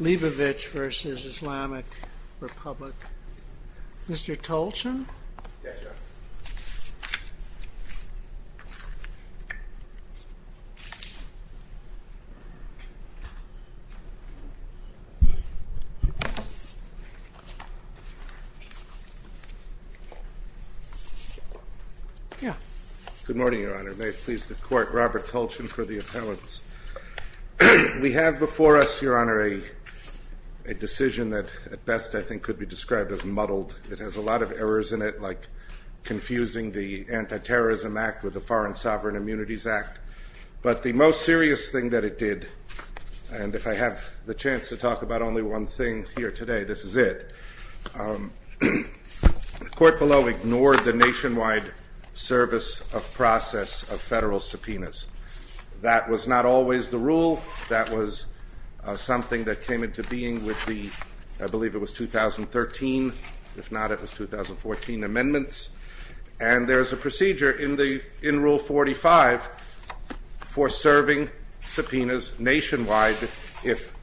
Leibovitch v. Islamic Republic. Mr. Tolchin? Yes, Your Honor. Good morning, Your Honor. May it please the Court, Robert Tolchin for the appellants. We have before us, Your Honor, a decision that at best I think could be described as muddled. It has a lot of errors in it, like confusing the Anti-Terrorism Act with the Foreign Sovereign Immunities Act. But the most serious thing that it did, and if I have the chance to talk about only one thing here today, this is it. The Court below ignored the nationwide service of process of federal subpoenas. That was not always the rule. That was something that came into being with the, I believe it was 2013. If not, it was 2014 amendments. And there is a procedure in Rule 45 for serving subpoenas nationwide. If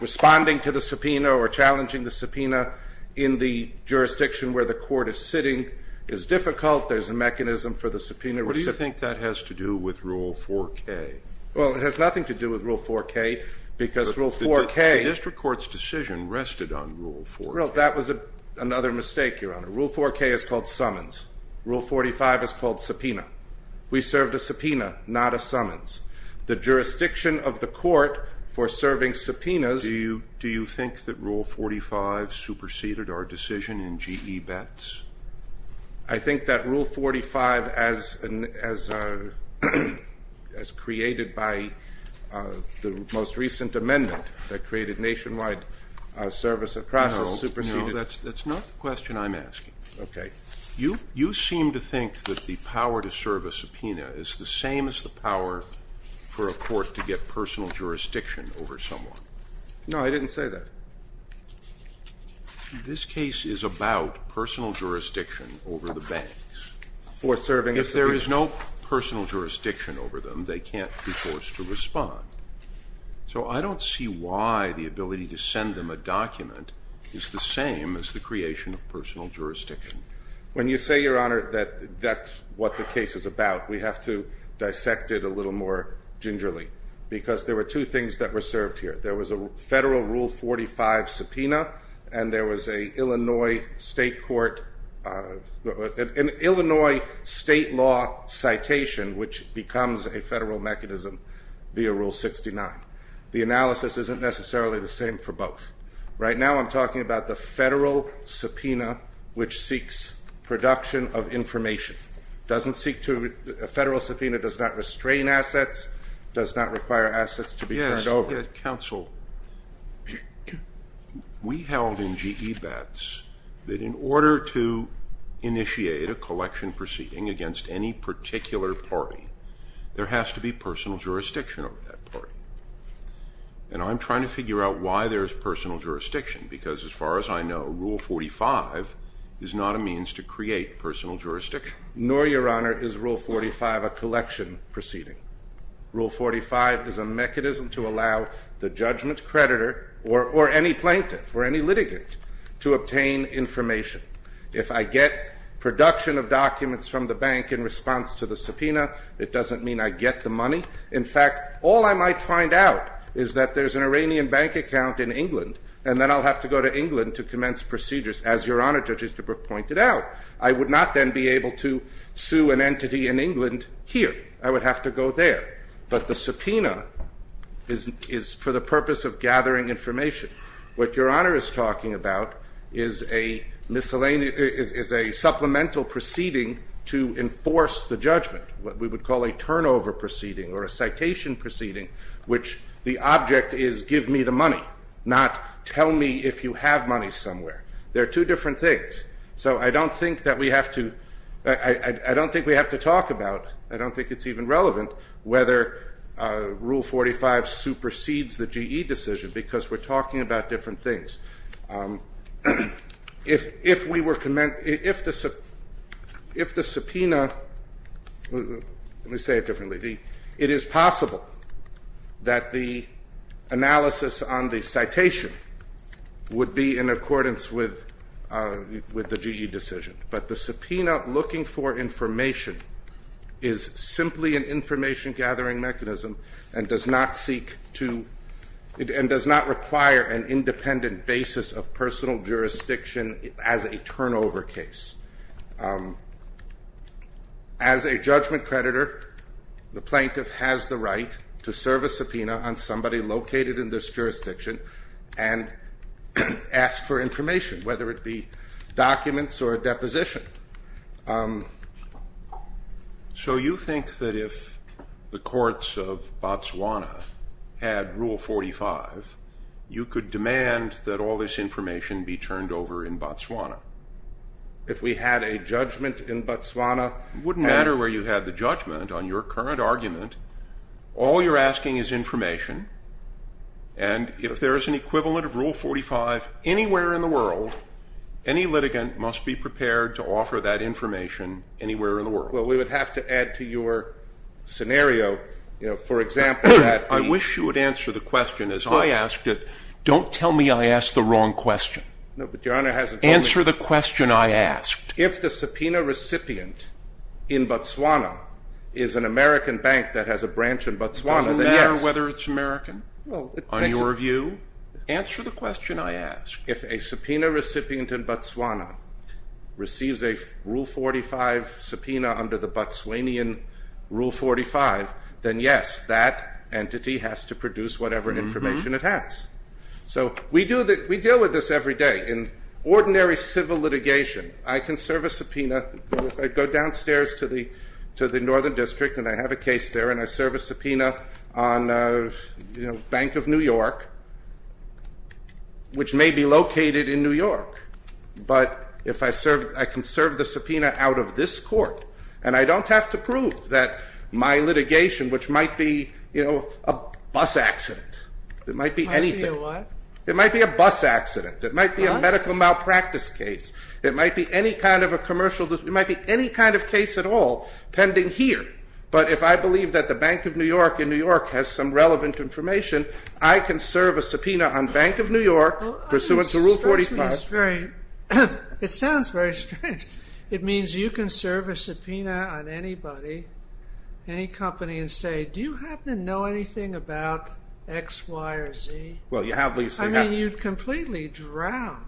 responding to the subpoena or challenging the subpoena in the jurisdiction where the Court is sitting is difficult, there is a mechanism for the subpoena recipient. What do you think that has to do with Rule 4K? Well, it has nothing to do with Rule 4K because Rule 4K... But the district court's decision rested on Rule 4K. Well, that was another mistake, Your Honor. Rule 4K is called summons. Rule 45 is called subpoena. We served a subpoena, not a summons. The jurisdiction of the Court for serving subpoenas... Do you think that Rule 45 superseded our decision in GE bets? I think that Rule 45, as created by the most recent amendment that created nationwide service of process, superseded... No, that's not the question I'm asking. Okay. You seem to think that the power to serve a subpoena is the same as the power for a court to get personal jurisdiction over someone. No, I didn't say that. This case is about personal jurisdiction over the banks. For serving a subpoena... If there is no personal jurisdiction over them, they can't be forced to respond. So I don't see why the ability to send them a document is the same as the creation of personal jurisdiction. When you say, Your Honor, that that's what the case is about, we have to dissect it a little more gingerly because there were two things that were served here. There was a federal Rule 45 subpoena and there was an Illinois state law citation, which becomes a federal mechanism via Rule 69. The analysis isn't necessarily the same for both. Right now I'm talking about the federal subpoena, which seeks production of information. A federal subpoena does not restrain assets, does not require assets to be turned over. Counsel, we held in GE vets that in order to initiate a collection proceeding against any particular party, there has to be personal jurisdiction over that party. And I'm trying to figure out why there's personal jurisdiction, because as far as I know, Rule 45 is not a means to create personal jurisdiction. Nor, Your Honor, is Rule 45 a collection proceeding. Rule 45 is a mechanism to allow the judgment creditor or any plaintiff or any litigant to obtain information. If I get production of documents from the bank in response to the subpoena, it doesn't mean I get the money. In fact, all I might find out is that there's an Iranian bank account in England, and then I'll have to go to England to commence procedures, as Your Honor, Judge Easterbrook pointed out. I would not then be able to sue an entity in England here. I would have to go there. But the subpoena is for the purpose of gathering information. What Your Honor is talking about is a supplemental proceeding to enforce the judgment, what we would call a turnover proceeding or a citation proceeding, which the object is give me the money, not tell me if you have money somewhere. They're two different things. So I don't think that we have to talk about, I don't think it's even relevant, whether Rule 45 supersedes the GE decision because we're talking about different things. If the subpoena, let me say it differently, it is possible that the analysis on the citation would be in accordance with the GE decision, but the subpoena looking for information is simply an information-gathering mechanism and does not require an independent basis of personal jurisdiction as a turnover case. As a judgment creditor, the plaintiff has the right to serve a subpoena on somebody located in this jurisdiction and ask for information, whether it be documents or a deposition. So you think that if the courts of Botswana had Rule 45, you could demand that all this information be turned over in Botswana? If we had a judgment in Botswana? It wouldn't matter where you had the judgment on your current argument. All you're asking is information, and if there is an equivalent of Rule 45 anywhere in the world, any litigant must be prepared to offer that information anywhere in the world. Well, we would have to add to your scenario, you know, for example, that I wish you would answer the question as I asked it. Don't tell me I asked the wrong question. No, but Your Honor hasn't told me. Answer the question I asked. If the subpoena recipient in Botswana is an American bank that has a branch in Botswana, then yes. It doesn't matter whether it's American. On your view? Answer the question I asked. If a subpoena recipient in Botswana receives a Rule 45 subpoena under the Botswanian Rule 45, then yes, that entity has to produce whatever information it has. So we deal with this every day. In ordinary civil litigation, I can serve a subpoena. I go downstairs to the northern district, and I have a case there, and I serve a subpoena on, you know, Bank of New York, which may be located in New York. But if I serve, I can serve the subpoena out of this court, and I don't have to prove that my litigation, which might be, you know, a bus accident. It might be anything. It might be a what? It might be a bus accident. It might be a medical malpractice case. It might be any kind of a commercial, it might be any kind of case at all pending here. But if I believe that the Bank of New York in New York has some relevant information, I can serve a subpoena on Bank of New York pursuant to Rule 45. It sounds very strange. It means you can serve a subpoena on anybody, any company, and say, do you happen to know anything about X, Y, or Z? I mean, you'd completely drown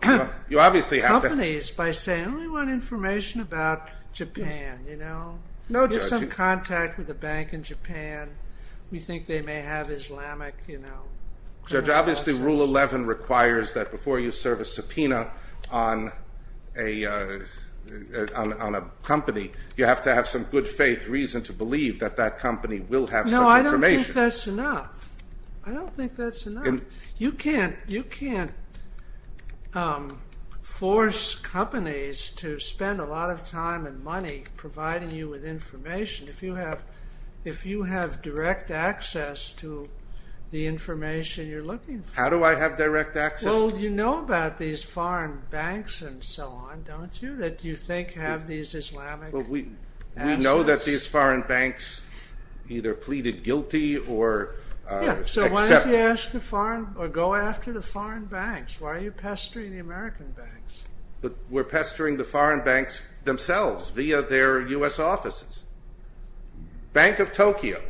companies by saying, oh, we want information about Japan, you know. No, just some contact with a bank in Japan. We think they may have Islamic, you know. Judge, obviously Rule 11 requires that before you serve a subpoena on a company, you have to have some good faith reason to believe that that company will have such information. No, I don't think that's enough. I don't think that's enough. You can't force companies to spend a lot of time and money providing you with information if you have direct access to the information you're looking for. How do I have direct access? Well, you know about these foreign banks and so on, don't you, that you think have these Islamic assets? We know that these foreign banks either pleaded guilty or accepted. Yeah, so why don't you ask the foreign or go after the foreign banks? Why are you pestering the American banks? We're pestering the foreign banks themselves via their U.S. offices. Bank of Tokyo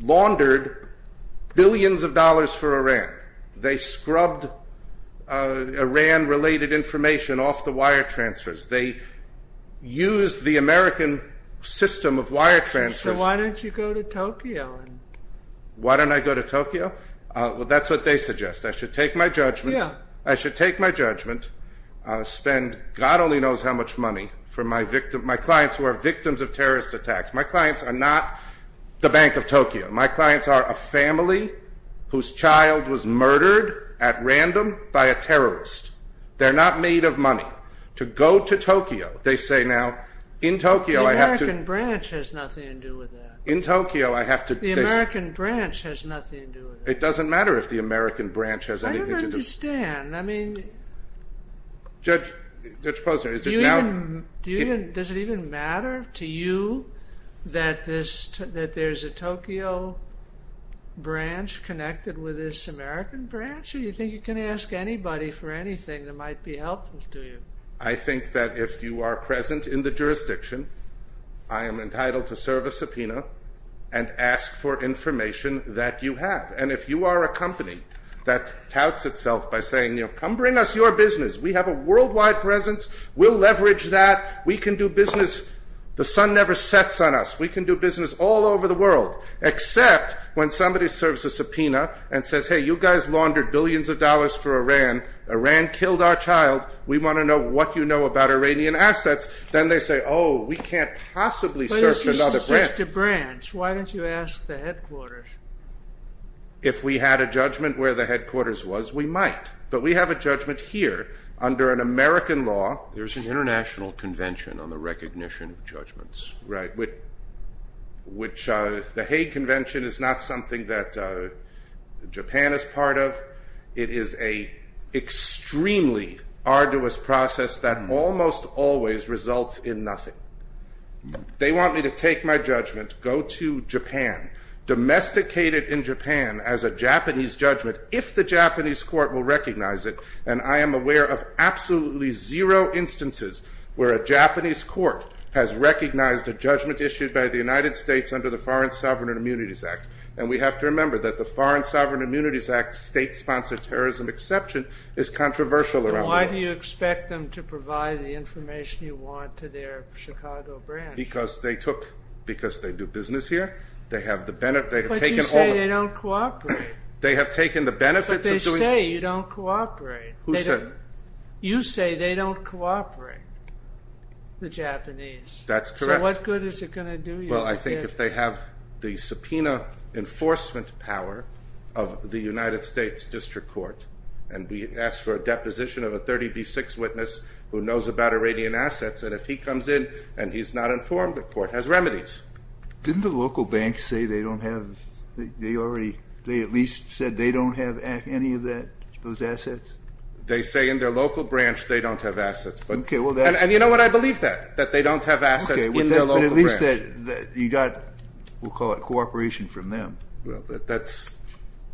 laundered billions of dollars for Iran. They scrubbed Iran-related information off the wire transfers. They used the American system of wire transfers. So why don't you go to Tokyo? Why don't I go to Tokyo? Well, that's what they suggest. I should take my judgment, spend God only knows how much money for my clients who are victims of terrorist attacks. My clients are not the Bank of Tokyo. My clients are a family whose child was murdered at random by a terrorist. They're not made of money. To go to Tokyo, they say now, in Tokyo I have to... In Tokyo I have to... The American branch has nothing to do with it. It doesn't matter if the American branch has anything to do... I don't understand. I mean... Judge Posner, is it now... Does it even matter to you that there's a Tokyo branch connected with this American branch? Or you think you can ask anybody for anything that might be helpful to you? I think that if you are present in the jurisdiction, I am entitled to serve a subpoena and ask for information that you have. And if you are a company that touts itself by saying, you know, come bring us your business. We have a worldwide presence. We'll leverage that. We can do business. The sun never sets on us. We can do business all over the world. Except when somebody serves a subpoena and says, hey, you guys laundered billions of dollars for Iran. Iran killed our child. We want to know what you know about Iranian assets. Then they say, oh, we can't possibly search another branch. But if you search the branch, why don't you ask the headquarters? If we had a judgment where the headquarters was, we might. But we have a judgment here under an American law. There's an international convention on the recognition of judgments. Right. Which the Hague Convention is not something that Japan is part of. It is an extremely arduous process that almost always results in nothing. They want me to take my judgment, go to Japan, domesticate it in Japan as a Japanese judgment, if the Japanese court will recognize it. And I am aware of absolutely zero instances where a Japanese court has recognized a judgment issued by the United States under the Foreign Sovereign Immunities Act. And we have to remember that the Foreign Sovereign Immunities Act state-sponsored terrorism exception is controversial around the world. And why do you expect them to provide the information you want to their Chicago branch? Because they do business here. But you say they don't cooperate. They have taken the benefits of doing it. But they say you don't cooperate. Who said? You say they don't cooperate, the Japanese. That's correct. So what good is it going to do you? Well, I think if they have the subpoena enforcement power of the United States District Court and we ask for a deposition of a 30B6 witness who knows about Iranian assets, and if he comes in and he's not informed, the court has remedies. Didn't the local banks say they don't have any of those assets? They say in their local branch they don't have assets. And you know what? I believe that, that they don't have assets in their local branch. But at least you got, we'll call it cooperation from them.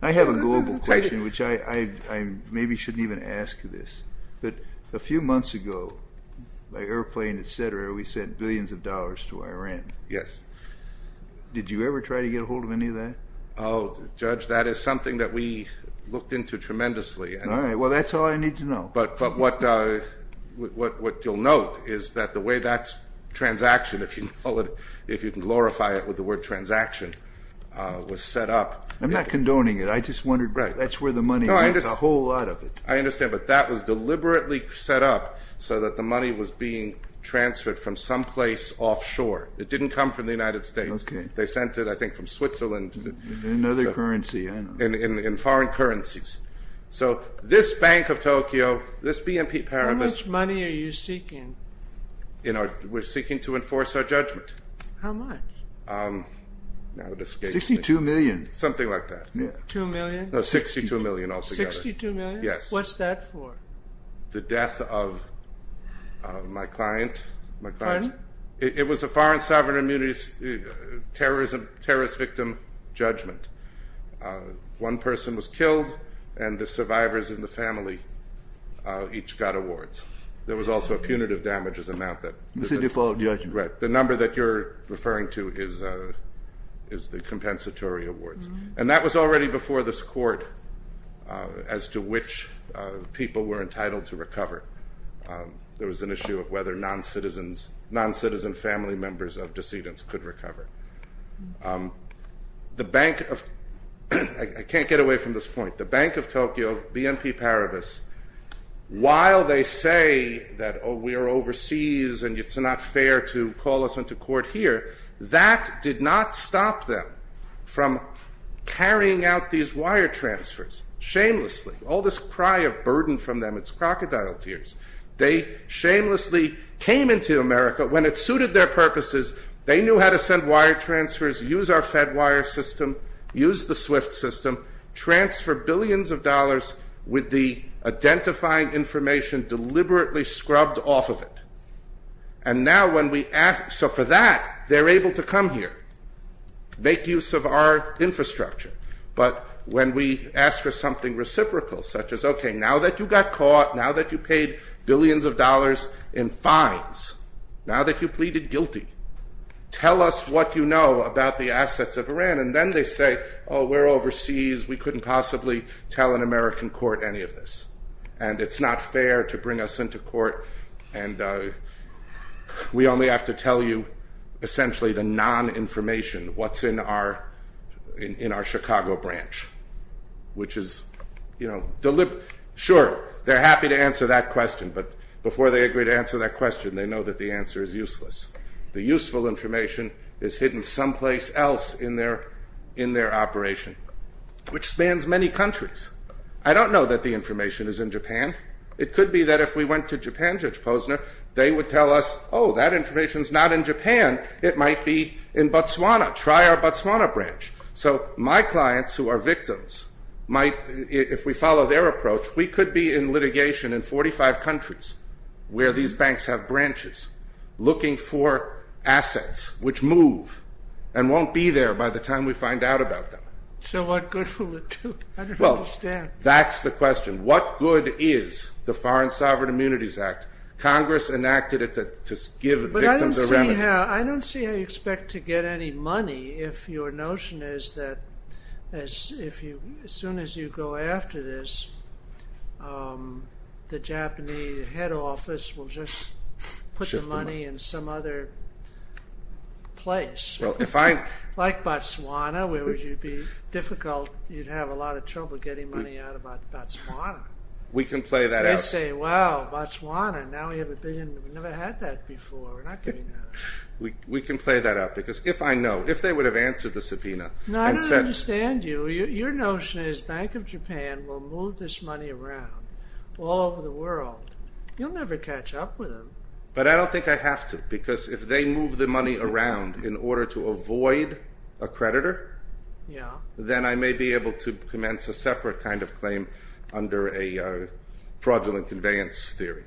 I have a global question, which I maybe shouldn't even ask this. But a few months ago, by airplane, et cetera, we sent billions of dollars to Iran. Yes. Did you ever try to get a hold of any of that? Oh, Judge, that is something that we looked into tremendously. All right. Well, that's all I need to know. But what you'll note is that the way that transaction, if you can glorify it with the word transaction, was set up. I'm not condoning it. I just wondered. That's where the money went, a whole lot of it. I understand. But that was deliberately set up so that the money was being transferred from someplace offshore. It didn't come from the United States. They sent it, I think, from Switzerland. Another currency. In foreign currencies. So this Bank of Tokyo, this BNP Paribas. How much money are you seeking? We're seeking to enforce our judgment. How much? 62 million. Something like that. Two million? No, 62 million altogether. 62 million? Yes. What's that for? The death of my client. Pardon? It was a foreign sovereign immunity terrorist victim judgment. One person was killed, and the survivors in the family each got awards. There was also a punitive damages amount. It's a default judgment. Right. The number that you're referring to is the compensatory awards. And that was already before this court as to which people were entitled to recover. There was an issue of whether non-citizen family members of decedents could recover. I can't get away from this point. The Bank of Tokyo, BNP Paribas, while they say that we are overseas and it's not fair to call us into court here, that did not stop them from carrying out these wire transfers shamelessly. All this cry of burden from them, it's crocodile tears. They shamelessly came into America. But when it suited their purposes, they knew how to send wire transfers, use our Fedwire system, use the SWIFT system, transfer billions of dollars with the identifying information deliberately scrubbed off of it. And now when we ask for that, they're able to come here, make use of our infrastructure. But when we ask for something reciprocal, such as, okay, now that you got caught, now that you paid billions of dollars in fines, now that you pleaded guilty, tell us what you know about the assets of Iran. And then they say, oh, we're overseas. We couldn't possibly tell an American court any of this. And it's not fair to bring us into court. And we only have to tell you essentially the non-information, what's in our Chicago branch, which is deliberate. Sure, they're happy to answer that question. But before they agree to answer that question, they know that the answer is useless. The useful information is hidden someplace else in their operation, which spans many countries. I don't know that the information is in Japan. It could be that if we went to Japan, Judge Posner, they would tell us, oh, that information is not in Japan. It might be in Botswana. Try our Botswana branch. So my clients who are victims might, if we follow their approach, we could be in litigation in 45 countries where these banks have branches looking for assets which move and won't be there by the time we find out about them. So what good will it do? I don't understand. Well, that's the question. What good is the Foreign Sovereign Immunities Act? Congress enacted it to give victims a remedy. I don't see how you expect to get any money if your notion is that as soon as you go after this, the Japanese head office will just put the money in some other place. Like Botswana, where it would be difficult. You'd have a lot of trouble getting money out of Botswana. We can play that out. They'd say, well, Botswana, now we have a billion. We've never had that before. We're not getting that. We can play that out because if I know, if they would have answered the subpoena. No, I don't understand you. Your notion is Bank of Japan will move this money around all over the world. You'll never catch up with them. But I don't think I have to because if they move the money around in order to avoid a creditor, then I may be able to commence a separate kind of claim under a fraudulent conveyance theory.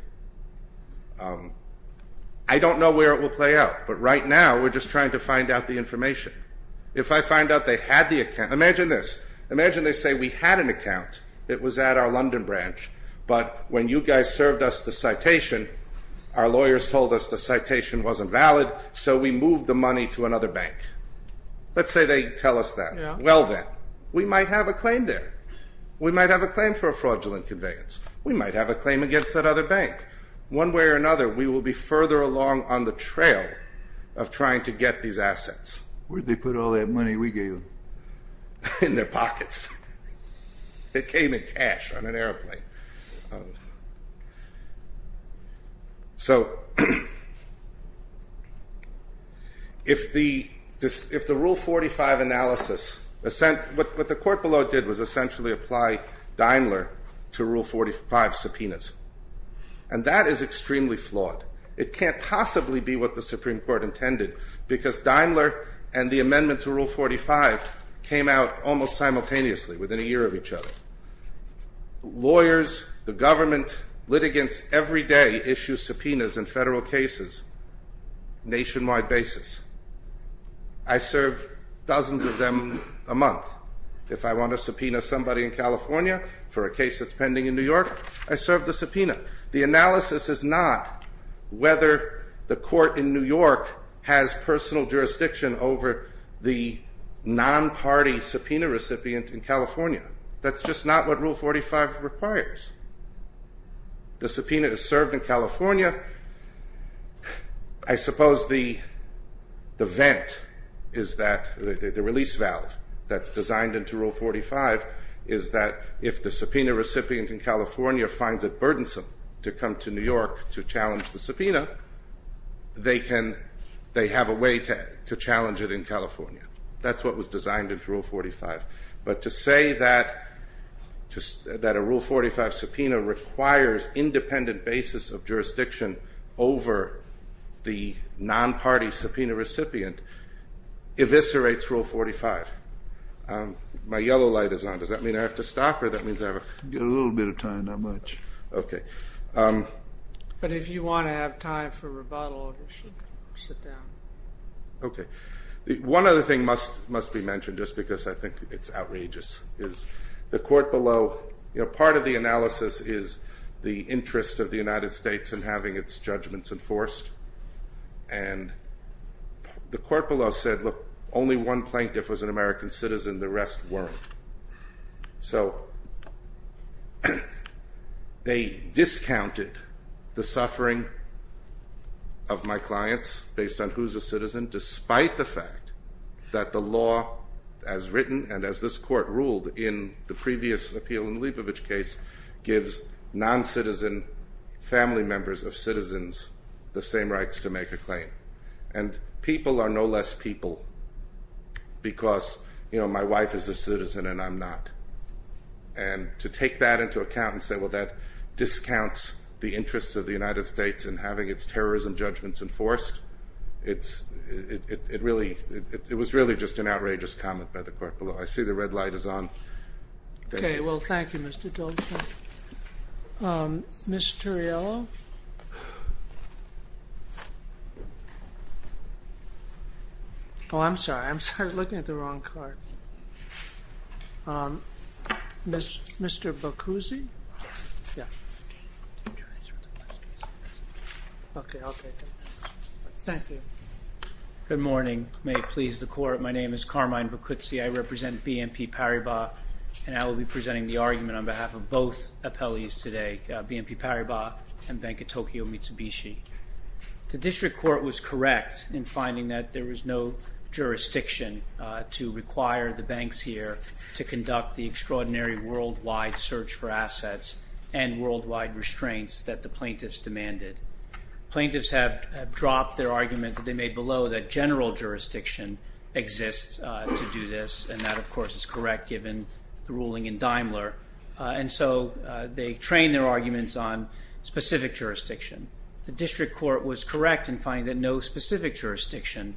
I don't know where it will play out, but right now we're just trying to find out the information. If I find out they had the account. Imagine this. Imagine they say we had an account. It was at our London branch, but when you guys served us the citation, our lawyers told us the citation wasn't valid, so we moved the money to another bank. Let's say they tell us that. Well then, we might have a claim there. We might have a claim for a fraudulent conveyance. We might have a claim against that other bank. One way or another, we will be further along on the trail of trying to get these assets. Where'd they put all that money we gave them? In their pockets. It came in cash on an airplane. If the Rule 45 analysis, what the court below did was essentially apply Daimler to Rule 45 subpoenas, and that is extremely flawed. It can't possibly be what the Supreme Court intended, because Daimler and the amendment to Rule 45 came out almost simultaneously, within a year of each other. Lawyers, the government, litigants every day issue subpoenas in federal cases, nationwide basis. I serve dozens of them a month. If I want to subpoena somebody in California for a case that's pending in New York, I serve the subpoena. The analysis is not whether the court in New York has personal jurisdiction over the non-party subpoena recipient in California. That's just not what Rule 45 requires. The subpoena is served in California. I suppose the vent is that, the release valve that's designed into Rule 45, is that if the subpoena recipient in California finds it burdensome to come to New York to challenge the subpoena, they have a way to challenge it in California. That's what was designed into Rule 45. But to say that a Rule 45 subpoena requires independent basis of jurisdiction over the non-party subpoena recipient, eviscerates Rule 45. My yellow light is on. Does that mean I have to stop, or does that mean I have a... You have a little bit of time, not much. Okay. But if you want to have time for rebuttal, you should sit down. Okay. One other thing must be mentioned, just because I think it's outrageous, is the court below, part of the analysis is the interest of the United States in having its judgments enforced. And the court below said, look, only one plaintiff was an American citizen, the rest weren't. So they discounted the suffering of my clients based on who's a citizen, despite the fact that the law, as written and as this court ruled in the previous appeal in the Leibovitch case, gives non-citizen family members of citizens the same rights to make a claim. And people are no less people because, you know, my wife is a citizen and I'm not. And to take that into account and say, well, that discounts the interests of the United States in having its terrorism judgments enforced, it was really just an outrageous comment by the court below. I see the red light is on. Okay. Well, thank you, Mr. Tulsa. Ms. Turiello? Oh, I'm sorry. I'm sorry. I was looking at the wrong card. Mr. Boccuzzi? Yes. Yeah. Okay. I'll take it. Thank you. Good morning. May it please the court. My name is Carmine Boccuzzi. I represent BNP Paribas, and I will be presenting the argument on behalf of both appellees today, BNP Paribas and Bank of Tokyo Mitsubishi. The district court was correct in finding that there was no jurisdiction to require the banks here to conduct the extraordinary worldwide search for assets and worldwide restraints that the plaintiffs demanded. Plaintiffs have dropped their argument that they made below that general jurisdiction exists to do this, and that, of course, is correct given the ruling in Daimler. And so they trained their arguments on specific jurisdiction. The district court was correct in finding that no specific jurisdiction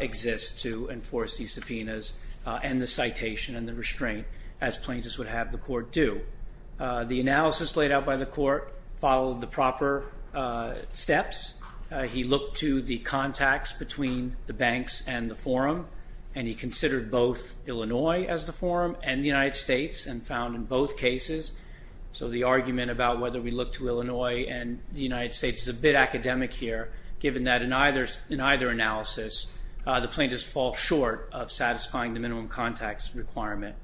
exists to enforce these subpoenas and the citation and the restraint as plaintiffs would have the court do. The analysis laid out by the court followed the proper steps. He looked to the contacts between the banks and the forum, and he considered both Illinois as the forum and the United States and found in both cases. So the argument about whether we look to Illinois and the United States is a bit academic here, given that in either analysis the plaintiffs fall short of satisfying the minimum contacts requirement.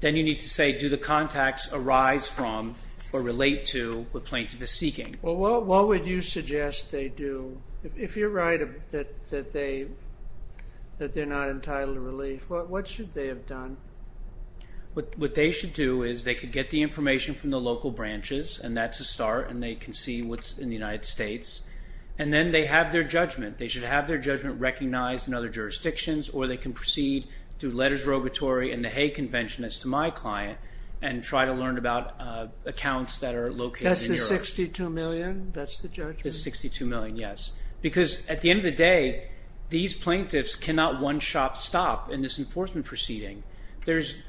Then you need to say do the contacts arise from or relate to what plaintiff is seeking. Well, what would you suggest they do? If you're right that they're not entitled to relief, what should they have done? What they should do is they could get the information from the local branches, and that's a start, and they can see what's in the United States. And then they have their judgment. They should have their judgment recognized in other jurisdictions, or they can proceed through letters of regulatory and the Hague Convention as to my client and try to learn about accounts that are located in Europe. That's the $62 million? That's the judgment? The $62 million, yes. Because at the end of the day, these plaintiffs cannot one-shot stop in this enforcement proceeding.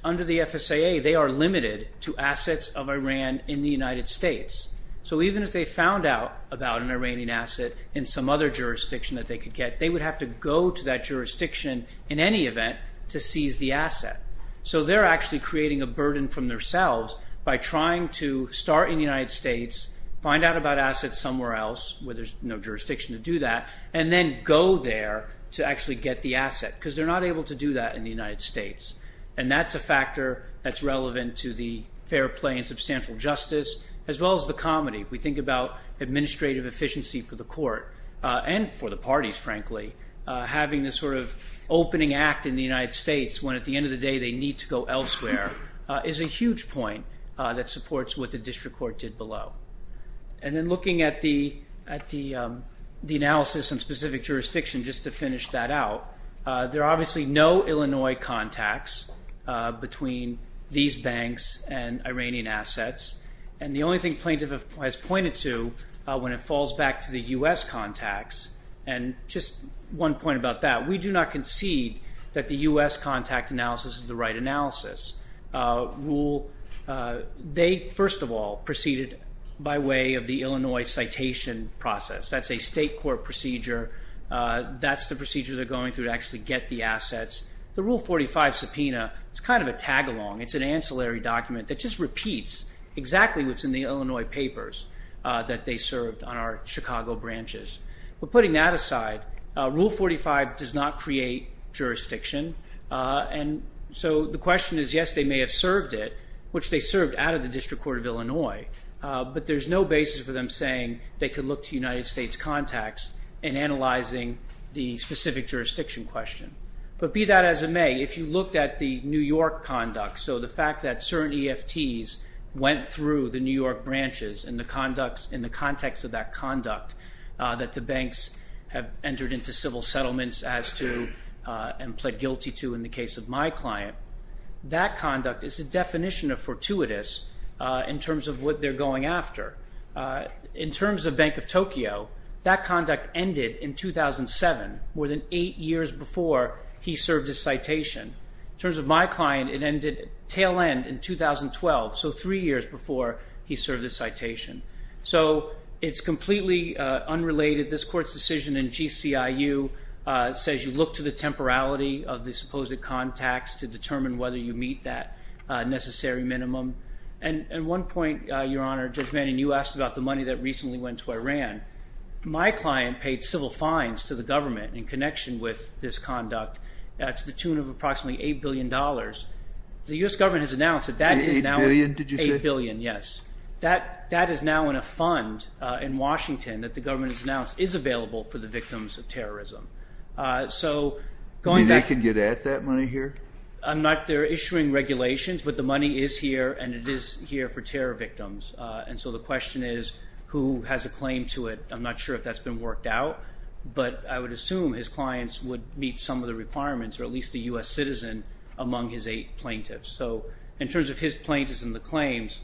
Under the FSAA, they are limited to assets of Iran in the United States. So even if they found out about an Iranian asset in some other jurisdiction that they could get, they would have to go to that jurisdiction in any event to seize the asset. So they're actually creating a burden from themselves by trying to start in the United States, find out about assets somewhere else where there's no jurisdiction to do that, and then go there to actually get the asset because they're not able to do that in the United States. And that's a factor that's relevant to the fair play and substantial justice as well as the comedy. If we think about administrative efficiency for the court and for the parties, frankly, having this sort of opening act in the United States when, at the end of the day, they need to go elsewhere is a huge point that supports what the district court did below. And then looking at the analysis and specific jurisdiction, just to finish that out, there are obviously no Illinois contacts between these banks and Iranian assets. And the only thing plaintiff has pointed to when it falls back to the U.S. contacts, and just one point about that, we do not concede that the U.S. contact analysis is the right analysis. They, first of all, proceeded by way of the Illinois citation process. That's a state court procedure. That's the procedure they're going through to actually get the assets. The Rule 45 subpoena is kind of a tag-along. It's an ancillary document that just repeats exactly what's in the Illinois papers that they served on our Chicago branches. But putting that aside, Rule 45 does not create jurisdiction. And so the question is, yes, they may have served it, which they served out of the District Court of Illinois, but there's no basis for them saying they could look to United States contacts in analyzing the specific jurisdiction question. But be that as it may, if you looked at the New York conduct, so the fact that certain EFTs went through the New York branches in the context of that conduct, that the banks have entered into civil settlements as to and pled guilty to in the case of my client, that conduct is a definition of fortuitous in terms of what they're going after. In terms of Bank of Tokyo, that conduct ended in 2007, more than eight years before he served his citation. In terms of my client, it ended tail end in 2012, so three years before he served his citation. So it's completely unrelated. This court's decision in GCIU says you look to the temporality of the supposed contacts to determine whether you meet that necessary minimum. And one point, Your Honor, Judge Manning, you asked about the money that recently went to Iran. My client paid civil fines to the government in connection with this conduct. That's the tune of approximately $8 billion. The U.S. government has announced that that is now – Eight billion, did you say? Eight billion, yes. That is now in a fund in Washington that the government has announced is available for the victims of terrorism. So going back – You mean they can get at that money here? I'm not – they're issuing regulations, but the money is here, and it is here for terror victims. And so the question is who has a claim to it. I'm not sure if that's been worked out, but I would assume his clients would meet some of the requirements or at least a U.S. citizen among his eight plaintiffs. So in terms of his plaintiffs and the claims,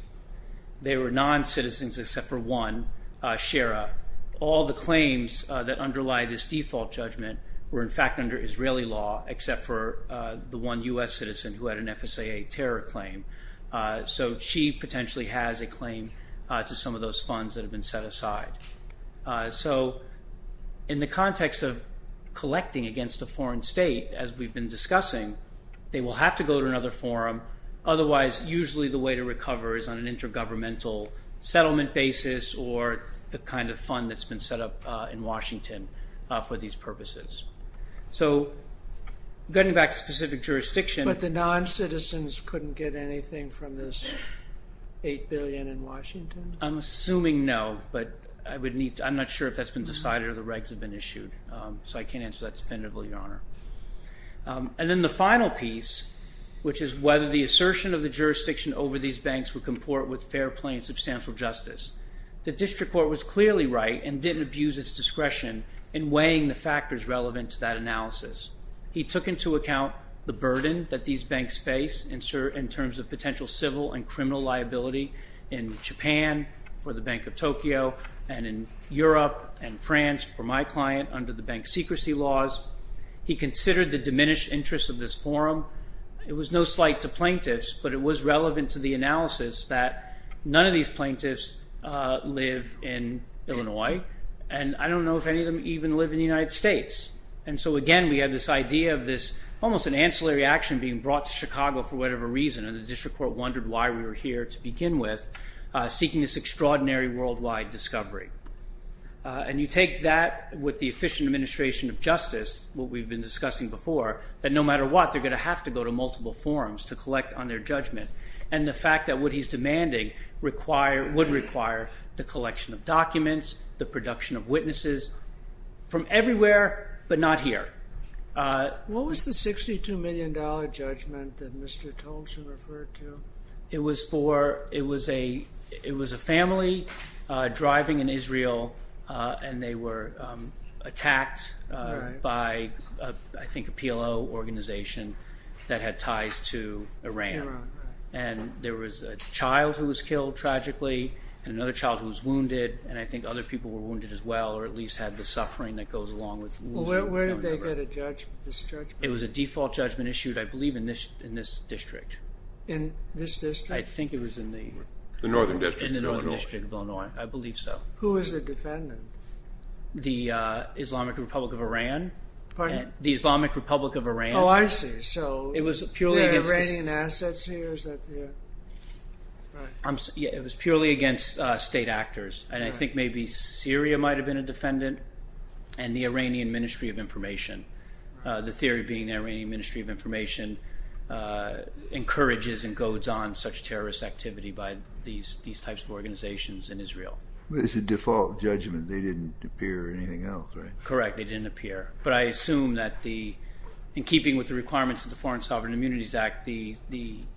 they were non-citizens except for one, Shara. All the claims that underlie this default judgment were, in fact, under Israeli law except for the one U.S. citizen who had an FSAA terror claim. So she potentially has a claim to some of those funds that have been set aside. So in the context of collecting against a foreign state, as we've been discussing, they will have to go to another forum. Otherwise, usually the way to recover is on an intergovernmental settlement basis or the kind of fund that's been set up in Washington for these purposes. So getting back to specific jurisdiction. But the non-citizens couldn't get anything from this $8 billion in Washington? I'm assuming no, but I'm not sure if that's been decided or the regs have been issued, so I can't answer that definitively, Your Honor. And then the final piece, which is whether the assertion of the jurisdiction over these banks would comport with fair, plain, substantial justice. The district court was clearly right and didn't abuse its discretion in weighing the factors relevant to that analysis. He took into account the burden that these banks face in terms of potential civil and criminal liability in Japan for the Bank of Tokyo and in Europe and France for my client under the bank secrecy laws. He considered the diminished interest of this forum. It was no slight to plaintiffs, but it was relevant to the analysis that none of these plaintiffs live in Illinois. And I don't know if any of them even live in the United States. And so, again, we have this idea of this almost an ancillary action being brought to Chicago for whatever reason, and the district court wondered why we were here to begin with, seeking this extraordinary worldwide discovery. And you take that with the efficient administration of justice, what we've been discussing before, that no matter what, they're going to have to go to multiple forums to collect on their judgment. And the fact that what he's demanding would require the collection of documents, the production of witnesses from everywhere, but not here. What was the $62 million judgment that Mr. Tolson referred to? It was a family driving in Israel, and they were attacked by, I think, a PLO organization that had ties to Iran. And there was a child who was killed tragically and another child who was wounded, and I think other people were wounded as well, or at least had the suffering that goes along with losing a family member. Where did they get this judgment? It was a default judgment issued, I believe, in this district. In this district? I think it was in the northern district of Illinois. I believe so. Who was the defendant? The Islamic Republic of Iran. Pardon? The Islamic Republic of Iran. Oh, I see. So, it was purely against the state actors. And I think maybe Syria might have been a defendant and the Iranian Ministry of Information. The theory being the Iranian Ministry of Information encourages and goads on such terrorist activity by these types of organizations in Israel. But it's a default judgment. They didn't appear or anything else, right? Correct. They didn't appear. But I assume that in keeping with the requirements of the Foreign Sovereign Immunities Act, the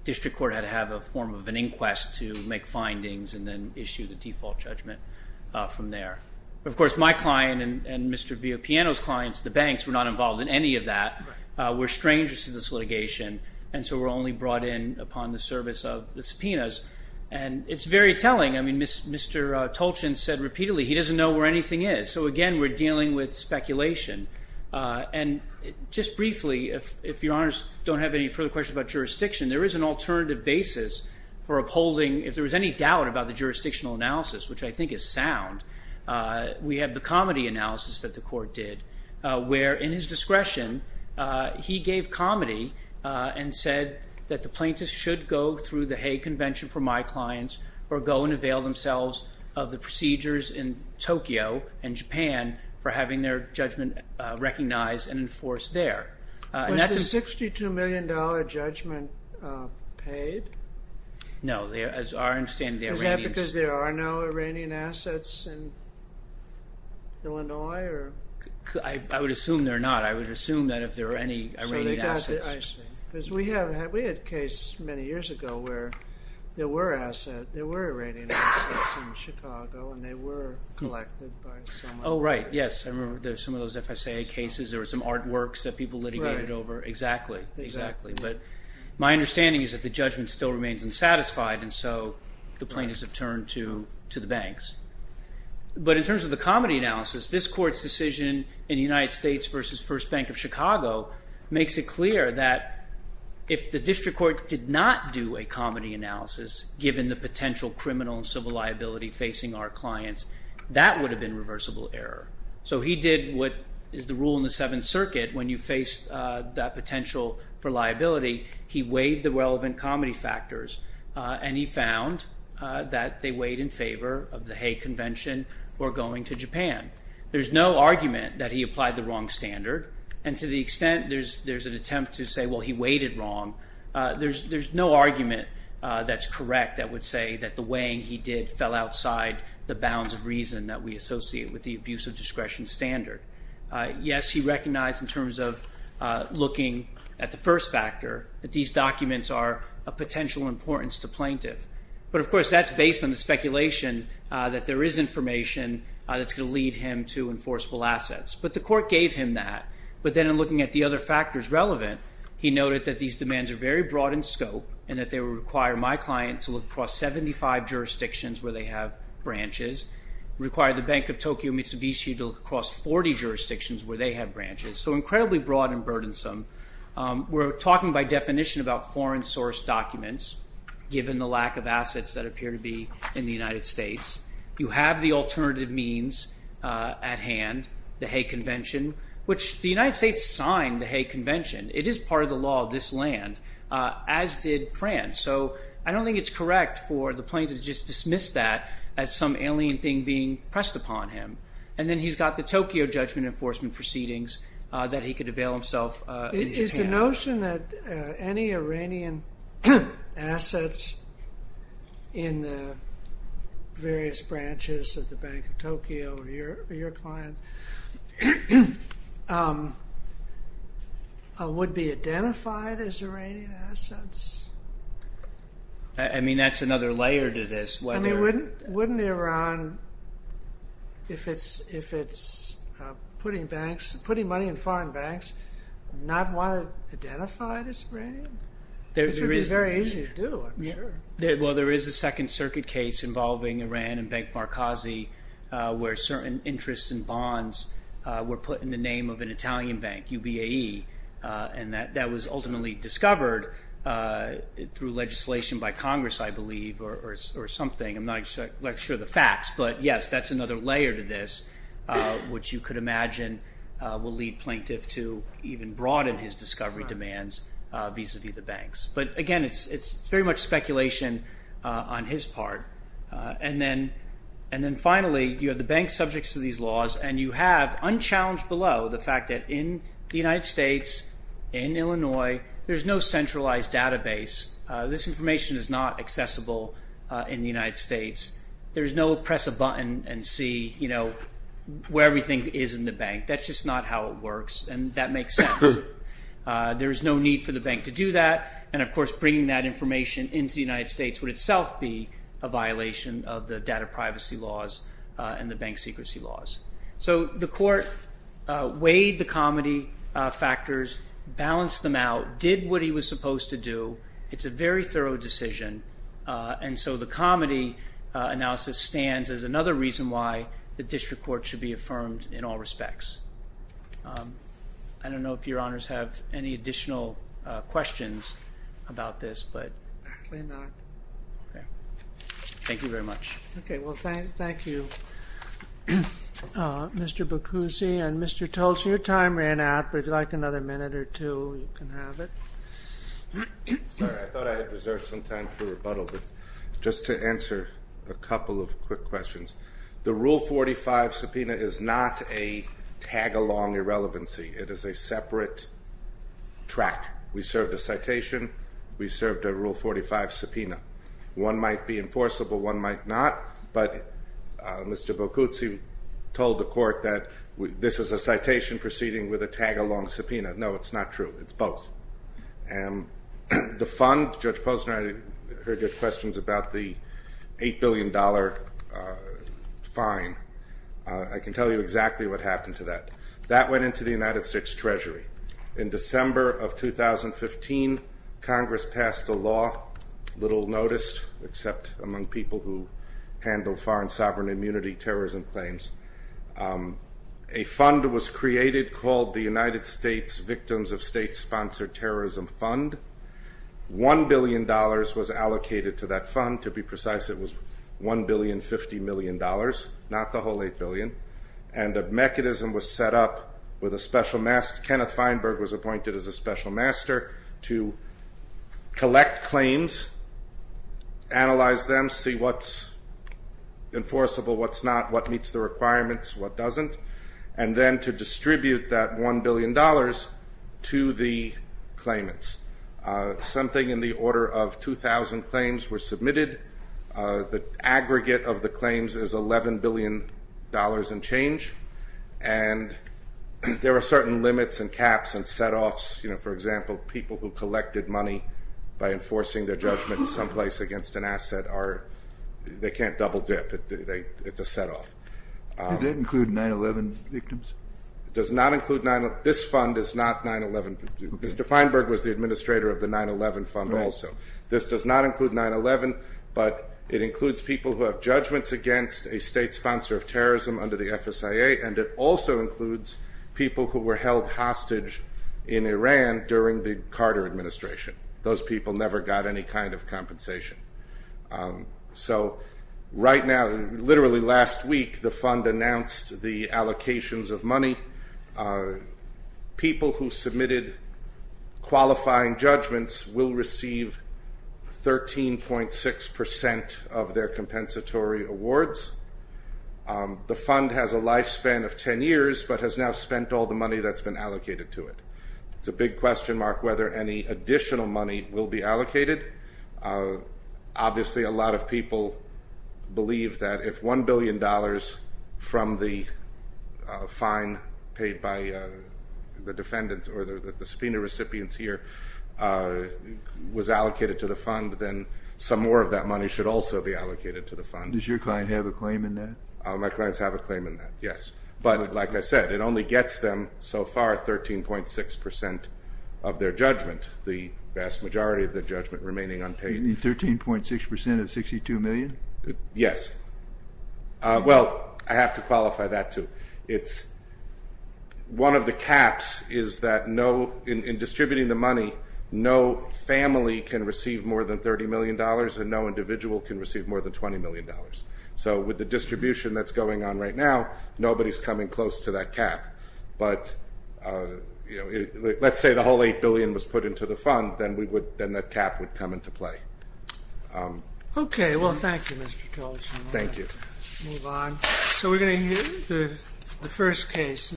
district court had to have a form of an inquest to make findings and then issue the default judgment from there. Of course, my client and Mr. Villapiano's clients, the banks, were not involved in any of that, were strangers to this litigation, and so were only brought in upon the service of the subpoenas. And it's very telling. I mean, Mr. Tolchin said repeatedly he doesn't know where anything is. So, again, we're dealing with speculation. And just briefly, if Your Honors don't have any further questions about jurisdiction, there is an alternative basis for upholding, if there was any doubt about the jurisdictional analysis, which I think is sound, we have the comedy analysis that the court did where, in his discretion, he gave comedy and said that the plaintiffs should go through the Hague Convention for my clients or go and avail themselves of the procedures in Tokyo and Japan for having their judgment recognized and enforced there. Was the $62 million judgment paid? No, as far as I understand, the Iranians... Is that because there are no Iranian assets in Illinois? I would assume they're not. I would assume that if there are any Iranian assets... I see. Because we had a case many years ago where there were Iranian assets in Chicago and they were collected by someone. Oh, right, yes. I remember some of those FSA cases. There were some artworks that people litigated over. Exactly, exactly. But my understanding is that the judgment still remains unsatisfied, and so the plaintiffs have turned to the banks. But in terms of the comedy analysis, this Court's decision in the United States v. First Bank of Chicago makes it clear that if the district court did not do a comedy analysis, given the potential criminal and civil liability facing our clients, that would have been reversible error. So he did what is the rule in the Seventh Circuit when you face that potential for liability. He weighed the relevant comedy factors, and he found that they weighed in favor of the Hague Convention or going to Japan. There's no argument that he applied the wrong standard, and to the extent there's an attempt to say, well, he weighed it wrong, there's no argument that's correct that would say that the weighing he did fell outside the bounds of reason that we associate with the abuse of discretion standard. Yes, he recognized in terms of looking at the first factor that these documents are of potential importance to plaintiffs. But, of course, that's based on the speculation that there is information that's going to lead him to enforceable assets. But the Court gave him that. But then in looking at the other factors relevant, he noted that these demands are very broad in scope and that they would require my client to look across 75 jurisdictions where they have branches, require the Bank of Tokyo Mitsubishi to look across 40 jurisdictions where they have branches. So incredibly broad and burdensome. We're talking by definition about foreign source documents given the lack of assets that appear to be in the United States. You have the alternative means at hand, the Hague Convention, which the United States signed the Hague Convention. It is part of the law of this land, as did France. So I don't think it's correct for the plaintiff to just dismiss that as some alien thing being pressed upon him. And then he's got the Tokyo Judgment Enforcement Proceedings that he could avail himself in Japan. Is the notion that any Iranian assets in the various branches of the Bank of Tokyo, your clients, would be identified as Iranian assets? I mean, that's another layer to this. I mean, wouldn't Iran, if it's putting money in foreign banks, not want it identified as Iranian? Which would be very easy to do, I'm sure. Well, there is a Second Circuit case involving Iran and Bank Markazi where certain interests and bonds were put in the name of an Italian bank, UBAE, and that was ultimately discovered through legislation by Congress, I believe, or something. I'm not sure of the facts. But yes, that's another layer to this, which you could imagine will lead plaintiff to even broaden his discovery demands vis-à-vis the banks. But again, it's very much speculation on his part. And then finally, you have the banks subject to these laws and you have, unchallenged below, the fact that in the United States, in Illinois, there's no centralized database. This information is not accessible in the United States. There's no press a button and see where everything is in the bank. That's just not how it works, and that makes sense. There's no need for the bank to do that, and of course bringing that information into the United States would itself be a violation of the data privacy laws and the bank secrecy laws. So the court weighed the comedy factors, balanced them out, did what he was supposed to do. It's a very thorough decision, and so the comedy analysis stands as another reason why the district court should be affirmed in all respects. I don't know if Your Honors have any additional questions about this. Probably not. Thank you very much. Okay, well, thank you, Mr. Bacusi. And Mr. Tulce, your time ran out, but if you'd like another minute or two, you can have it. Sorry, I thought I had reserved some time for rebuttal, but just to answer a couple of quick questions. The Rule 45 subpoena is not a tag-along irrelevancy. It is a separate track. We served a citation. We served a Rule 45 subpoena. One might be enforceable, one might not, but Mr. Bacusi told the court that this is a citation proceeding with a tag-along subpoena. No, it's not true. It's both. The fund, Judge Posner, I heard your questions about the $8 billion fine. I can tell you exactly what happened to that. That went into the United States Treasury. In December of 2015, Congress passed a law, little noticed, except among people who handle foreign sovereign immunity terrorism claims. A fund was created called the United States Victims of State Sponsored Terrorism Fund. $1 billion was allocated to that fund. To be precise, it was $1,050,000,000, not the whole $8 billion. A mechanism was set up with a special master. Kenneth Feinberg was appointed as a special master to collect claims, analyze them, see what's enforceable, what's not, what meets the requirements, what doesn't, and then to distribute that $1 billion to the claimants. Something in the order of 2,000 claims were submitted. The aggregate of the claims is $11 billion and change, and there are certain limits and caps and setoffs. For example, people who collected money by enforcing their judgment someplace against an asset, they can't double dip. It's a setoff. Did it include 9-11 victims? It does not include 9-11. This fund is not 9-11. Mr. Feinberg was the administrator of the 9-11 fund also. This does not include 9-11, but it includes people who have judgments against a state sponsor of terrorism under the FSIA, and it also includes people who were held hostage in Iran during the Carter administration. Those people never got any kind of compensation. So right now, literally last week, the fund announced the allocations of money. People who submitted qualifying judgments will receive 13.6% of their compensatory awards. The fund has a lifespan of 10 years but has now spent all the money that's been allocated to it. It's a big question mark whether any additional money will be allocated. Obviously, a lot of people believe that if $1 billion from the fine paid by the defendants or the subpoena recipients here was allocated to the fund, then some more of that money should also be allocated to the fund. Does your client have a claim in that? My clients have a claim in that, yes. But like I said, it only gets them so far 13.6% of their judgment, the vast majority of their judgment remaining unpaid. You mean 13.6% of $62 million? Yes. Well, I have to qualify that too. One of the caps is that in distributing the money, no family can receive more than $30 million and no individual can receive more than $20 million. So with the distribution that's going on right now, nobody's coming close to that cap. But let's say the whole $8 billion was put into the fund, then that cap would come into play. Okay. Well, thank you, Mr. Tolchin. Thank you. Move on. So we're going to hear the first case.